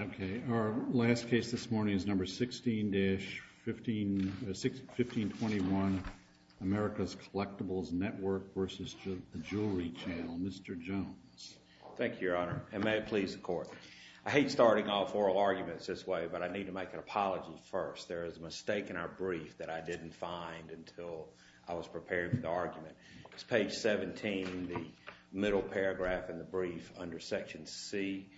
Okay, our last case this morning is number 16-1521, America's Collectibles Network v. The Jewelry Channel. Mr. Jones. Thank you, Your Honor, and may it please the Court. I hate starting off oral arguments this way, but I need to make an apology first. There is a mistake in our brief that I didn't find until I was prepared for the argument. It's page 17, the middle paragraph in the brief, under section C.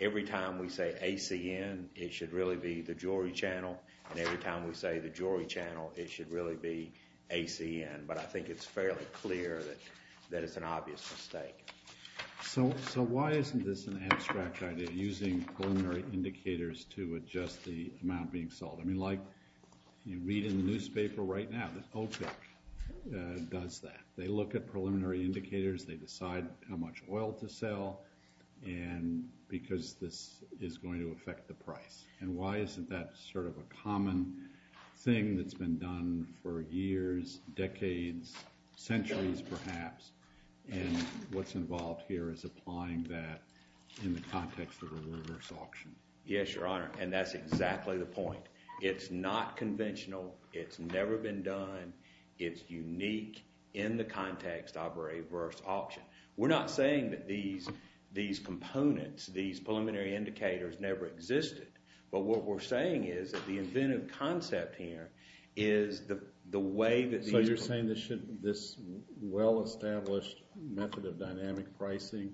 Every time we say ACN, it should really be The Jewelry Channel, and every time we say The Jewelry Channel, it should really be ACN. But I think it's fairly clear that it's an obvious mistake. So why isn't this an abstract idea, using preliminary indicators to adjust the amount being sold? I mean, like, you read in the newspaper right now that OPEC does that. They look at preliminary indicators, they decide how much oil to sell, because this is going to affect the price. And why isn't that sort of a common thing that's been done for years, decades, centuries perhaps? And what's involved here is applying that in the context of a reverse auction. Yes, Your Honor, and that's exactly the point. It's not conventional. It's never been done. It's unique in the context of a reverse auction. We're not saying that these components, these preliminary indicators, never existed. But what we're saying is that the inventive concept here is the way that these— So you're saying this well-established method of dynamic pricing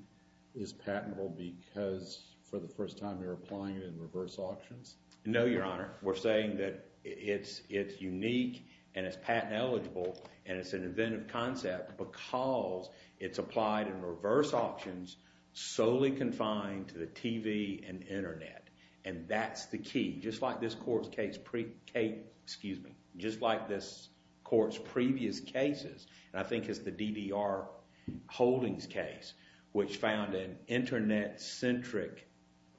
is patentable because for the first time they're applying it in reverse auctions? No, Your Honor. We're saying that it's unique and it's patent eligible and it's an inventive concept because it's applied in reverse auctions solely confined to the TV and internet. And that's the key. Just like this court's previous cases, and I think it's the DDR Holdings case, which found an internet-centric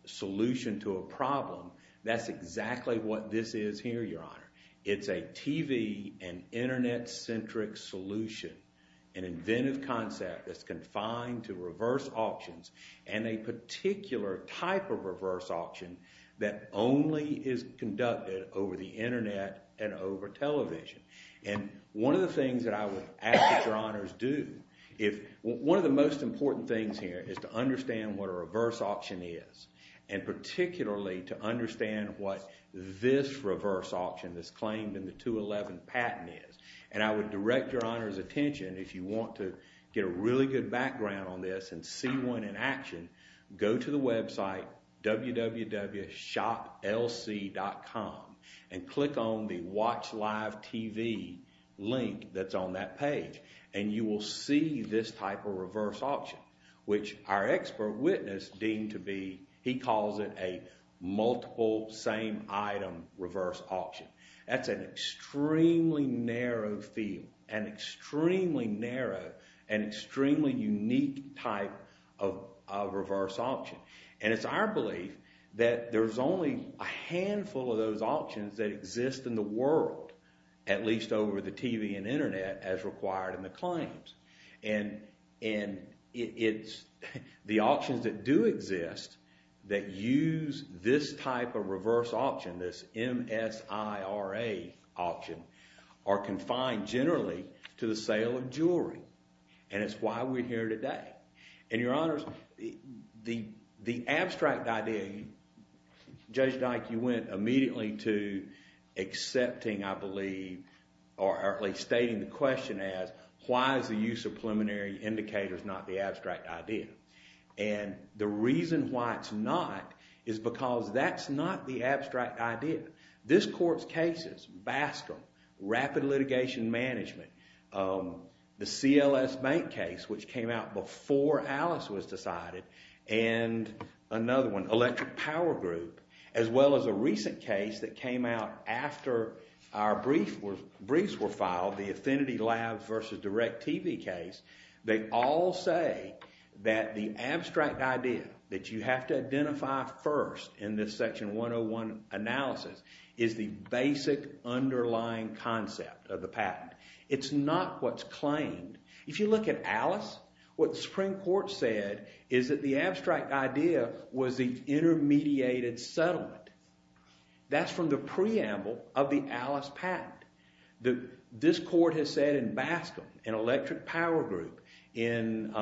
solution to a problem, that's exactly what this is here, Your Honor. It's a TV and internet-centric solution, an inventive concept that's confined to reverse auctions and a particular type of reverse auction that only is conducted over the internet and over television. And one of the things that I would ask that Your Honors do, one of the most important things here is to understand what a reverse auction is and particularly to understand what this reverse auction that's claimed in the 211 patent is. And I would direct Your Honor's attention, if you want to get a really good background on this and see one in action, go to the website www.shoplc.com and click on the Watch Live TV link that's on that page and you will see this type of reverse auction, which our expert witness deemed to be, he calls it a multiple same item reverse auction. That's an extremely narrow field, an extremely narrow and extremely unique type of reverse auction. And it's our belief that there's only a handful of those auctions that exist in the world, at least over the TV and internet, as required in the claims. And it's the auctions that do exist that use this type of reverse auction, this MSIRA auction, are confined generally to the sale of jewelry. And it's why we're here today. And Your Honors, the abstract idea, Judge Dyke, you went immediately to accepting, I believe, or at least stating the question as, why is the use of preliminary indicators not the abstract idea? And the reason why it's not is because that's not the abstract idea. This court's cases, Bastrom, rapid litigation management, the CLS Bank case, which came out before Alice was decided, and another one, Electric Power Group, as well as a recent case that came out after our briefs were filed, the Affinity Labs versus Direct TV case, they all say that the abstract idea that you have to identify first in this Section 101 analysis is the basic underlying concept of the patent. It's not what's claimed. If you look at Alice, what the Supreme Court said is that the abstract idea was the intermediated settlement. That's from the preamble of the Alice patent. This court has said in Bastrom, in Electric Power Group, in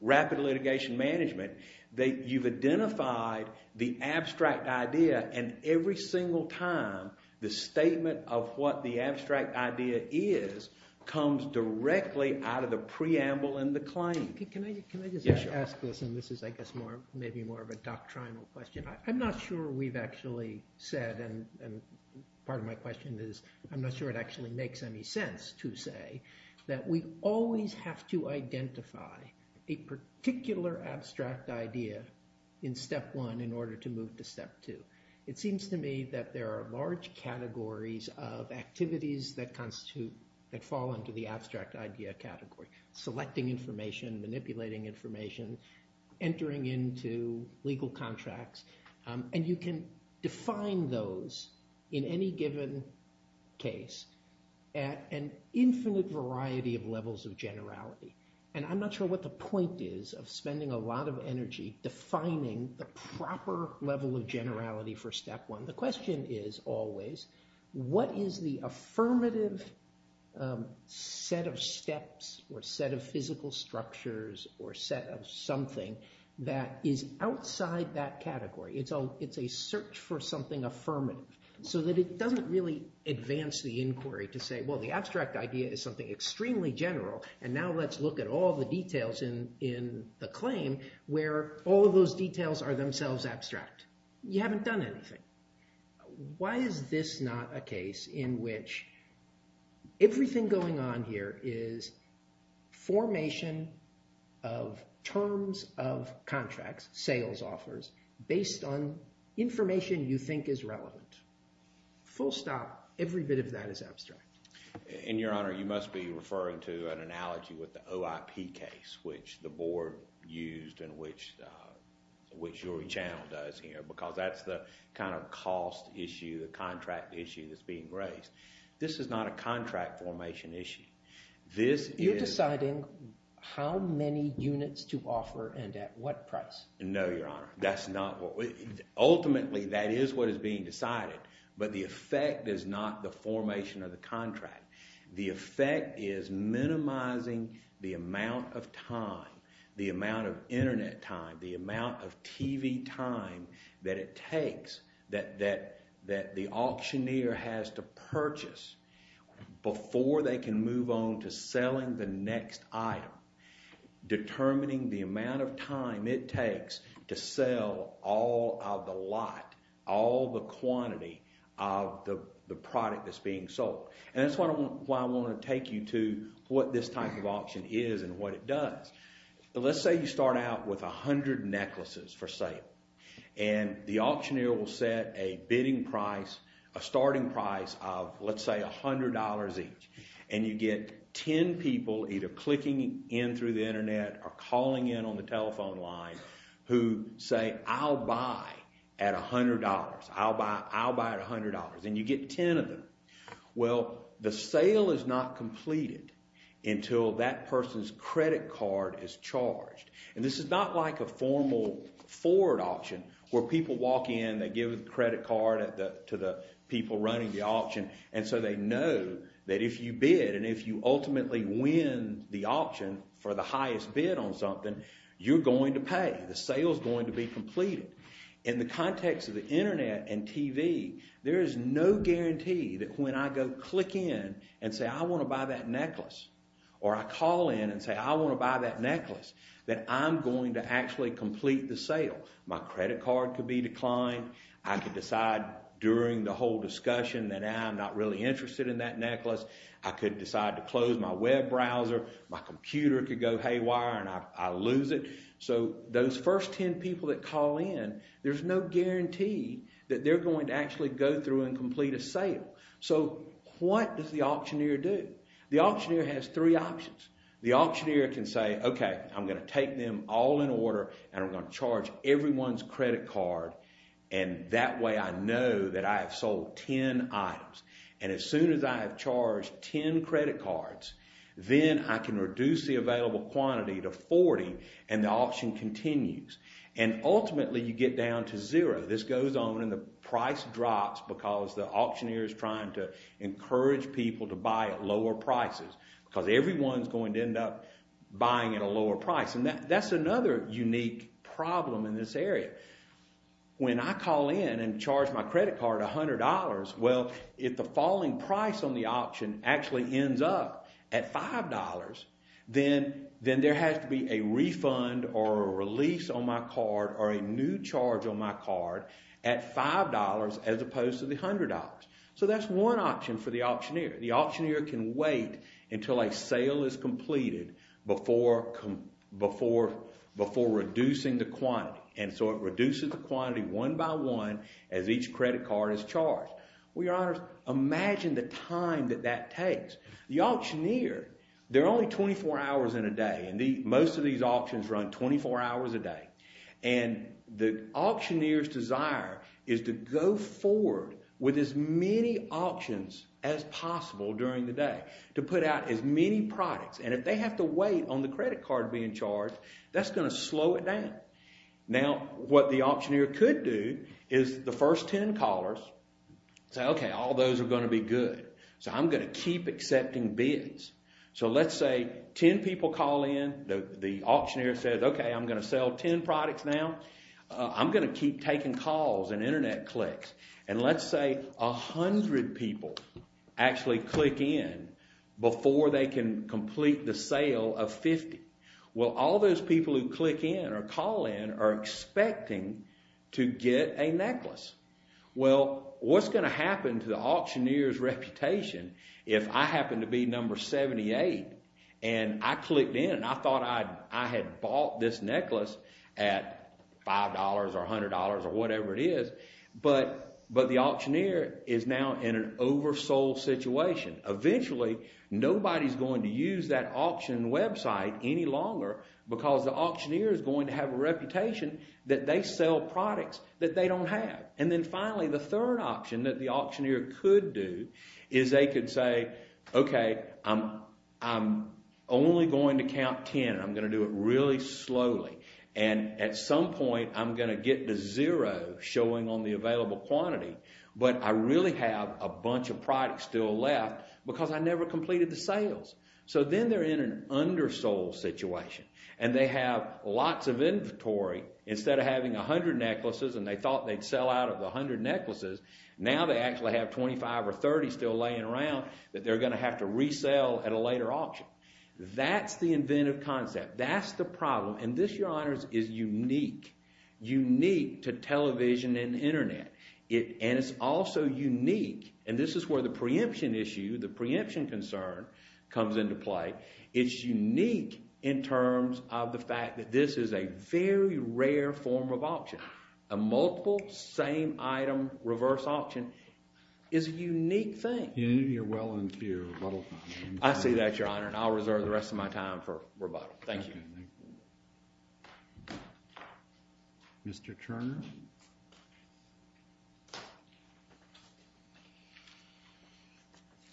rapid litigation management, that you've identified the abstract idea, and every single time, the statement of what the abstract idea is comes directly out of the preamble and the claim. Can I just ask this, and this is, I guess, maybe more of a doctrinal question. I'm not sure we've actually said, and part of my question is, I'm not sure it actually makes any sense to say that we always have to identify a particular abstract idea in Step 1 in order to move to Step 2. It seems to me that there are large categories of activities that constitute, that fall under the abstract idea category. Selecting information, manipulating information, entering into legal contracts, and you can define those in any given case at an infinite variety of levels of generality. And I'm not sure what the point is of spending a lot of energy defining the proper level of generality for Step 1. The question is always, what is the affirmative set of steps or set of physical structures or set of something that is outside that category? It's a search for something affirmative, so that it doesn't really advance the inquiry to say, well, the abstract idea is something extremely general, and now let's look at all the details in the claim where all of those details are themselves abstract. You haven't done anything. Why is this not a case in which everything going on here is formation of terms of contracts, sales offers, based on information you think is relevant? Full stop. Every bit of that is abstract. And, Your Honor, you must be referring to an analogy with the OIP case, which the board used and which your channel does here, because that's the kind of cost issue, the contract issue that's being raised. This is not a contract formation issue. You're deciding how many units to offer and at what price? No, Your Honor. Ultimately, that is what is being decided, but the effect is not the formation of the contract. The effect is minimizing the amount of time, the amount of Internet time, the amount of TV time that it takes that the auctioneer has to purchase before they can move on to selling the next item, determining the amount of time it takes to sell all of the lot, all the quantity of the product that's being sold. And that's why I want to take you to what this type of auction is and what it does. Let's say you start out with 100 necklaces for sale. And the auctioneer will set a bidding price, a starting price of, let's say, $100 each. And you get 10 people either clicking in through the Internet or calling in on the telephone line who say, I'll buy at $100. I'll buy at $100. And you get 10 of them. Well, the sale is not completed until that person's credit card is charged. And this is not like a formal forward auction where people walk in, they give the credit card to the people running the auction, and so they know that if you bid and if you ultimately win the option for the highest bid on something, you're going to pay. The sale's going to be completed. In the context of the Internet and TV, there is no guarantee that when I go click in and say, I want to buy that necklace, or I call in and say, I want to buy that necklace, my credit card could be declined. I could decide during the whole discussion that now I'm not really interested in that necklace. I could decide to close my web browser. My computer could go haywire and I lose it. So those first 10 people that call in, there's no guarantee that they're going to actually go through and complete a sale. So what does the auctioneer do? The auctioneer has three options. The auctioneer can say, OK, I'm going to take them all in order and I'm going to charge everyone's credit card, and that way I know that I have sold 10 items. And as soon as I have charged 10 credit cards, then I can reduce the available quantity to 40 and the auction continues. And ultimately you get down to zero. This goes on and the price drops because the auctioneer is trying to encourage people to buy at lower prices because everyone's going to end up buying at a lower price. And that's another unique problem in this area. When I call in and charge my credit card $100, well, if the falling price on the auction actually ends up at $5, then there has to be a refund or a release on my card or a new charge on my card at $5 as opposed to the $100. So that's one option for the auctioneer. The auctioneer can wait until a sale is completed before reducing the quantity. And so it reduces the quantity one by one as each credit card is charged. Well, Your Honors, imagine the time that that takes. The auctioneer, they're only 24 hours in a day and most of these auctions run 24 hours a day. And the auctioneer's desire is to go forward with as many auctions as possible during the day to put out as many products. And if they have to wait on the credit card being charged, that's going to slow it down. Now, what the auctioneer could do is the first 10 callers say, okay, all those are going to be good. So I'm going to keep accepting bids. So let's say 10 people call in. The auctioneer says, okay, I'm going to sell 10 products now. I'm going to keep taking calls and internet clicks. And let's say 100 people actually click in before they can complete the sale of 50. Well, all those people who click in or call in are expecting to get a necklace. Well, what's going to happen to the auctioneer's reputation if I happen to be number 78 and I clicked in and I thought I had bought this necklace at $5 or $100 or whatever it is. But the auctioneer is now in an oversold situation. Eventually, nobody's going to use that auction website any longer because the auctioneer is going to have a reputation that they sell products that they don't have. And then finally, the third option that the auctioneer could do is they could say, okay, I'm only going to count 10. I'm going to do it really slowly. And at some point, I'm going to get to zero showing on the available quantity. But I really have a bunch of products still left because I never completed the sales. So then they're in an undersold situation. And they have lots of inventory. Instead of having 100 necklaces and they thought they'd sell out of the 100 necklaces, now they actually have 25 or 30 still laying around that they're going to have to resell at a later auction. That's the inventive concept. That's the problem. And this, Your Honors, is unique. Unique to television and Internet. And it's also unique. And this is where the preemption issue, the preemption concern, comes into play. It's unique in terms of the fact that this is a very rare form of auction. A multiple same item reverse auction is a unique thing. You're well into your rebuttal time. I see that, Your Honor. And I'll reserve the rest of my time for rebuttal. Thank you. Mr. Turner?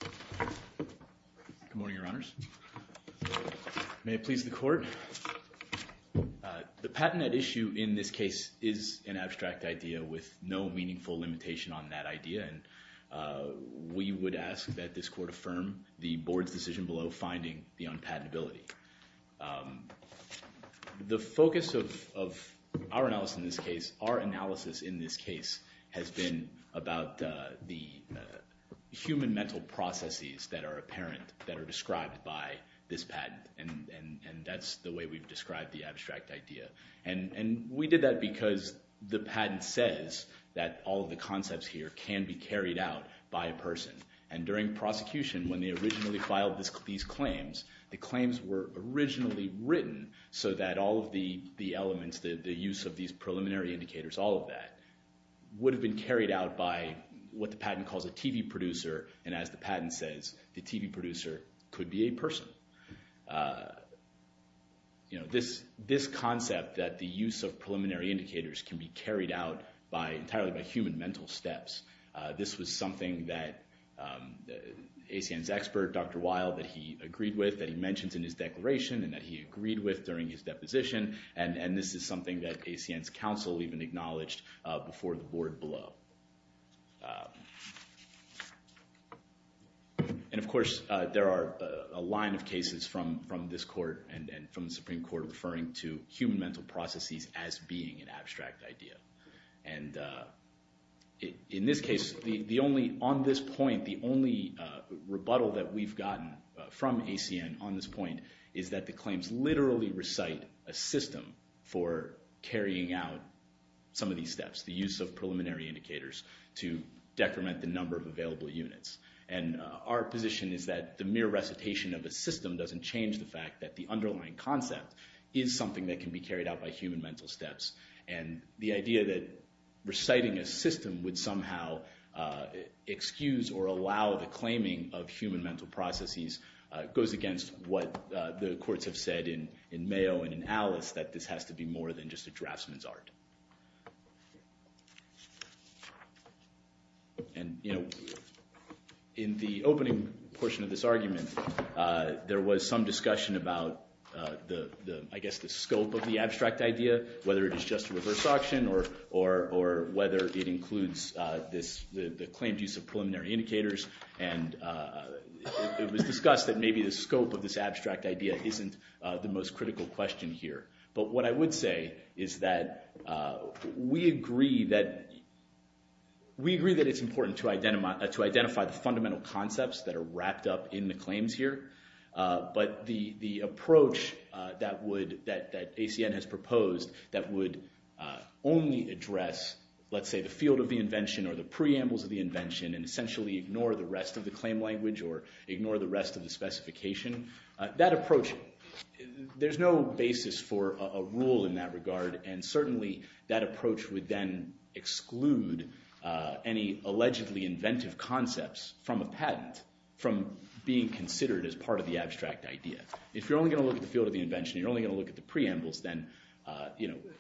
Good morning, Your Honors. May it please the court. The patented issue in this case is an abstract idea with no meaningful limitation on that idea. And we would ask that this court affirm the board's decision below finding the unpatentability. The focus of our analysis in this case are actually on the patentability. Our analysis in this case has been about the human mental processes that are apparent, that are described by this patent. And that's the way we've described the abstract idea. And we did that because the patent says that all of the concepts here can be carried out by a person. And during prosecution, when they originally filed these claims, the claims were originally written so that all of the elements, the use of these preliminary indicators, all of that, would have been carried out by what the patent calls a TV producer. And as the patent says, the TV producer could be a person. This concept that the use of preliminary indicators can be carried out entirely by human mental steps, this was something that ACN's expert, Dr. Weil, that he agreed with, that he mentioned in his declaration and that he agreed with during his deposition. And this is something that ACN's counsel even acknowledged before the board below. And, of course, there are a line of cases from this court and from the Supreme Court referring to human mental processes as being an abstract idea. And in this case, on this point, the only rebuttal that we've gotten from ACN on this point is that the claims literally recite a system for carrying out some of these steps, the use of preliminary indicators to decrement the number of available units. And our position is that the mere recitation of a system doesn't change the fact that the underlying concept is something that can be carried out by human mental steps. And the idea that reciting a system would somehow excuse or allow the claiming of human mental processes goes against what the courts have said in Mayo and in Alice, that this has to be more than just a draftsman's art. And in the opening portion of this argument, there was some discussion about, I guess, the scope of the abstract idea, whether it is just a reverse auction or whether it includes the claimed use of preliminary indicators. And it was discussed that maybe the scope of this abstract idea isn't the most critical question here. But what I would say is that we agree that it's important to identify the fundamental concepts that are wrapped up in the claims here. But the approach that ACN has proposed that would only address, let's say, the field of the invention or the preambles of the invention and essentially ignore the rest of the claim language or ignore the rest of the specification, that approach, there's no basis for a rule in that regard. And certainly that approach would then exclude any allegedly inventive concepts from a patent from being considered as part of the abstract idea. If you're only going to look at the field of the invention, you're only going to look at the preambles, then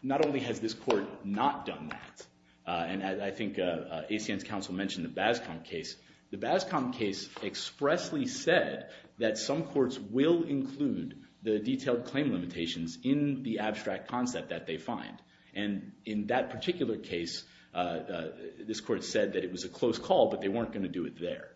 not only has this court not done that, and I think ACN's counsel mentioned the Bazcombe case, the Bazcombe case expressly said that some courts will include the detailed claim limitations in the abstract concept that they find. And in that particular case, this court said that it was a close call, but they weren't going to do it there.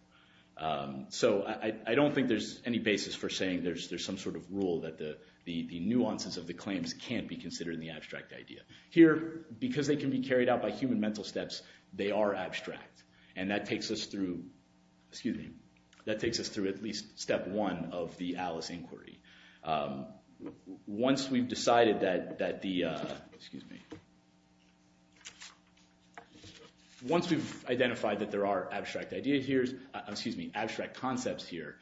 So I don't think there's any basis for saying there's some sort of rule that the nuances of the claims can't be considered in the abstract idea. Here, because they can be carried out by human mental steps, they are abstract, and that takes us through at least step one of the Alice inquiry. Once we've decided that there are abstract concepts here,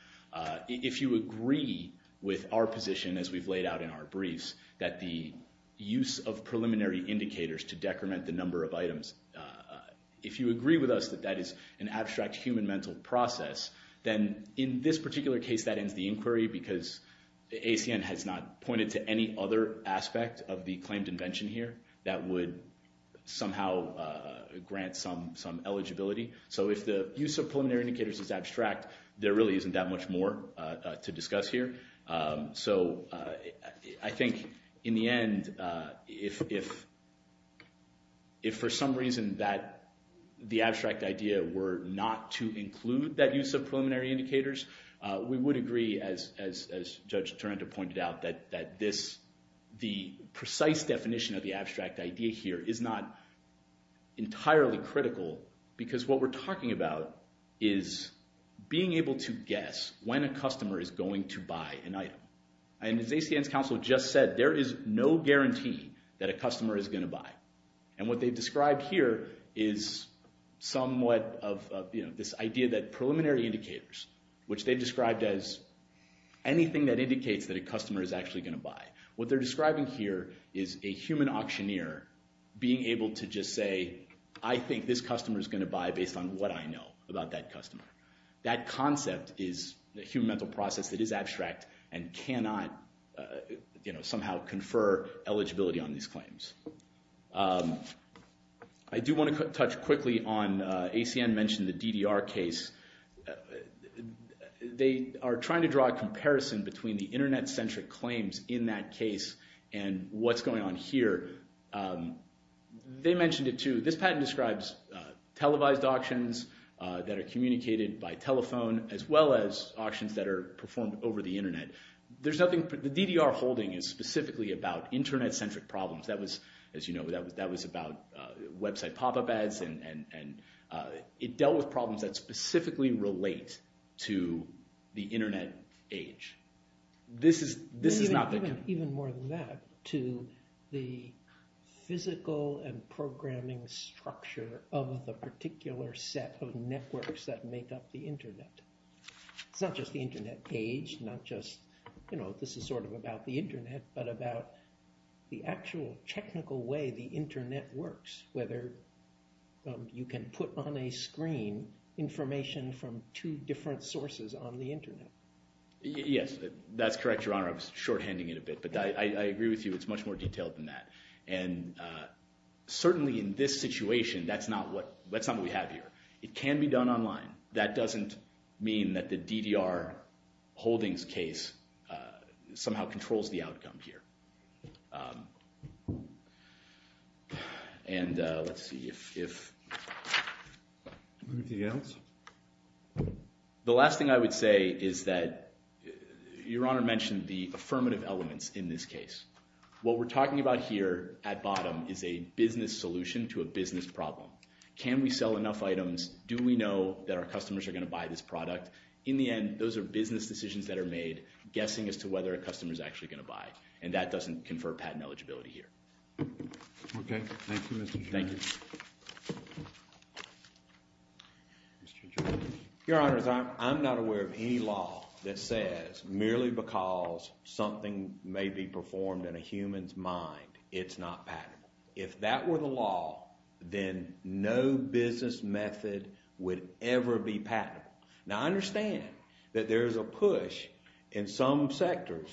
if you agree with our position as we've laid out in our briefs that the use of preliminary indicators to decrement the number of items, if you agree with us that that is an abstract human mental process, then in this particular case that ends the inquiry because ACN has not pointed to any other aspect of the claimed invention here that would somehow grant some eligibility. So if the use of preliminary indicators is abstract, there really isn't that much more to discuss here. So I think in the end, if for some reason the abstract idea were not to include that use of preliminary indicators, we would agree, as Judge Torrenta pointed out, that the precise definition of the abstract idea here is not entirely critical because what we're talking about is being able to guess when a customer is going to buy an item. And as ACN's counsel just said, there is no guarantee that a customer is going to buy. And what they've described here is somewhat of this idea that preliminary indicators, which they've described as anything that indicates that a customer is actually going to buy, what they're describing here is a human auctioneer being able to just say, I think this customer is going to buy based on what I know about that customer. That concept is a human mental process that is abstract and cannot somehow confer eligibility on these claims. I do want to touch quickly on ACN mentioned the DDR case. They are trying to draw a comparison between the Internet-centric claims in that case and what's going on here. They mentioned it too. This patent describes televised auctions that are communicated by telephone as well as auctions that are performed over the Internet. The DDR holding is specifically about Internet-centric problems. That was, as you know, that was about website pop-up ads, and it dealt with problems that specifically relate to the Internet age. This is not the... Even more than that, to the physical and programming structure of the particular set of networks that make up the Internet. It's not just the Internet age, not just, you know, this is sort of about the Internet, but about the actual technical way the Internet works, whether you can put on a screen information from two different sources on the Internet. Yes, that's correct, Your Honor. I was shorthanding it a bit, but I agree with you. It's much more detailed than that. And certainly in this situation, that's not what we have here. It can be done online. That doesn't mean that the DDR holdings case somehow controls the outcome here. And let's see if... Anything else? The last thing I would say is that Your Honor mentioned the affirmative elements in this case. What we're talking about here at bottom is a business solution to a business problem. Can we sell enough items? Do we know that our customers are going to buy this product? In the end, those are business decisions that are made, guessing as to whether a customer is actually going to buy, and that doesn't confer patent eligibility here. Okay. Thank you, Mr. Jordan. Thank you. Mr. Jordan. Your Honors, I'm not aware of any law that says, merely because something may be performed in a human's mind, it's not patentable. If that were the law, then no business method would ever be patentable. Now, I understand that there is a push in some sectors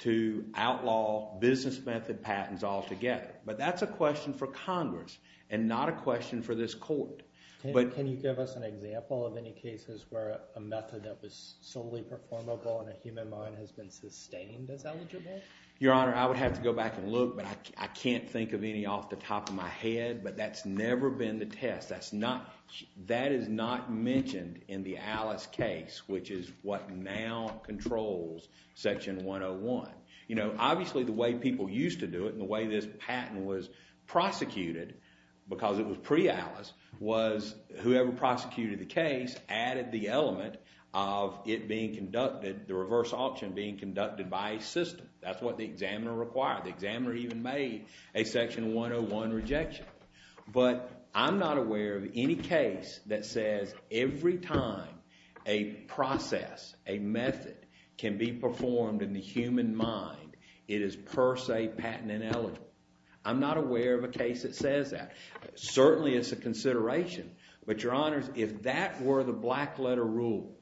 to outlaw business method patents altogether. But that's a question for Congress and not a question for this Court. Can you give us an example of any cases where a method that was solely performable Your Honor, I would have to go back and look, but I can't think of any off the top of my head. But that's never been the test. That is not mentioned in the Alice case, which is what now controls Section 101. Obviously, the way people used to do it and the way this patent was prosecuted, because it was pre-Alice, was whoever prosecuted the case added the element of it being conducted, the reverse option being conducted by a system. That's what the examiner required. The examiner even made a Section 101 rejection. But I'm not aware of any case that says every time a process, a method, can be performed in the human mind, it is per se patent ineligible. I'm not aware of a case that says that. Certainly, it's a consideration. But, Your Honors, if that were the black letter rule,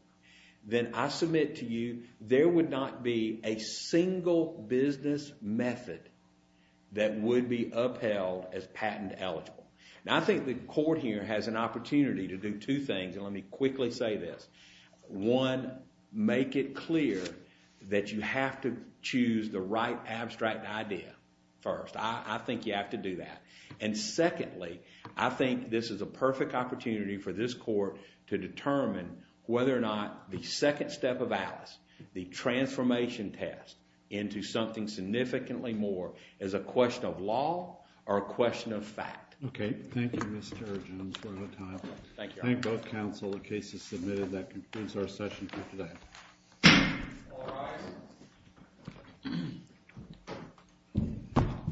then I submit to you, there would not be a single business method that would be upheld as patent eligible. Now, I think the Court here has an opportunity to do two things, and let me quickly say this. One, make it clear that you have to choose the right abstract idea first. I think you have to do that. And secondly, I think this is a perfect opportunity for this Court to determine whether or not the second step of Alice, the transformation test into something significantly more, is a question of law or a question of fact. Okay. Thank you, Mr. Jones, for your time. Thank you, Your Honor. Thank both counsel. The case is submitted. That concludes our session for today. All rise.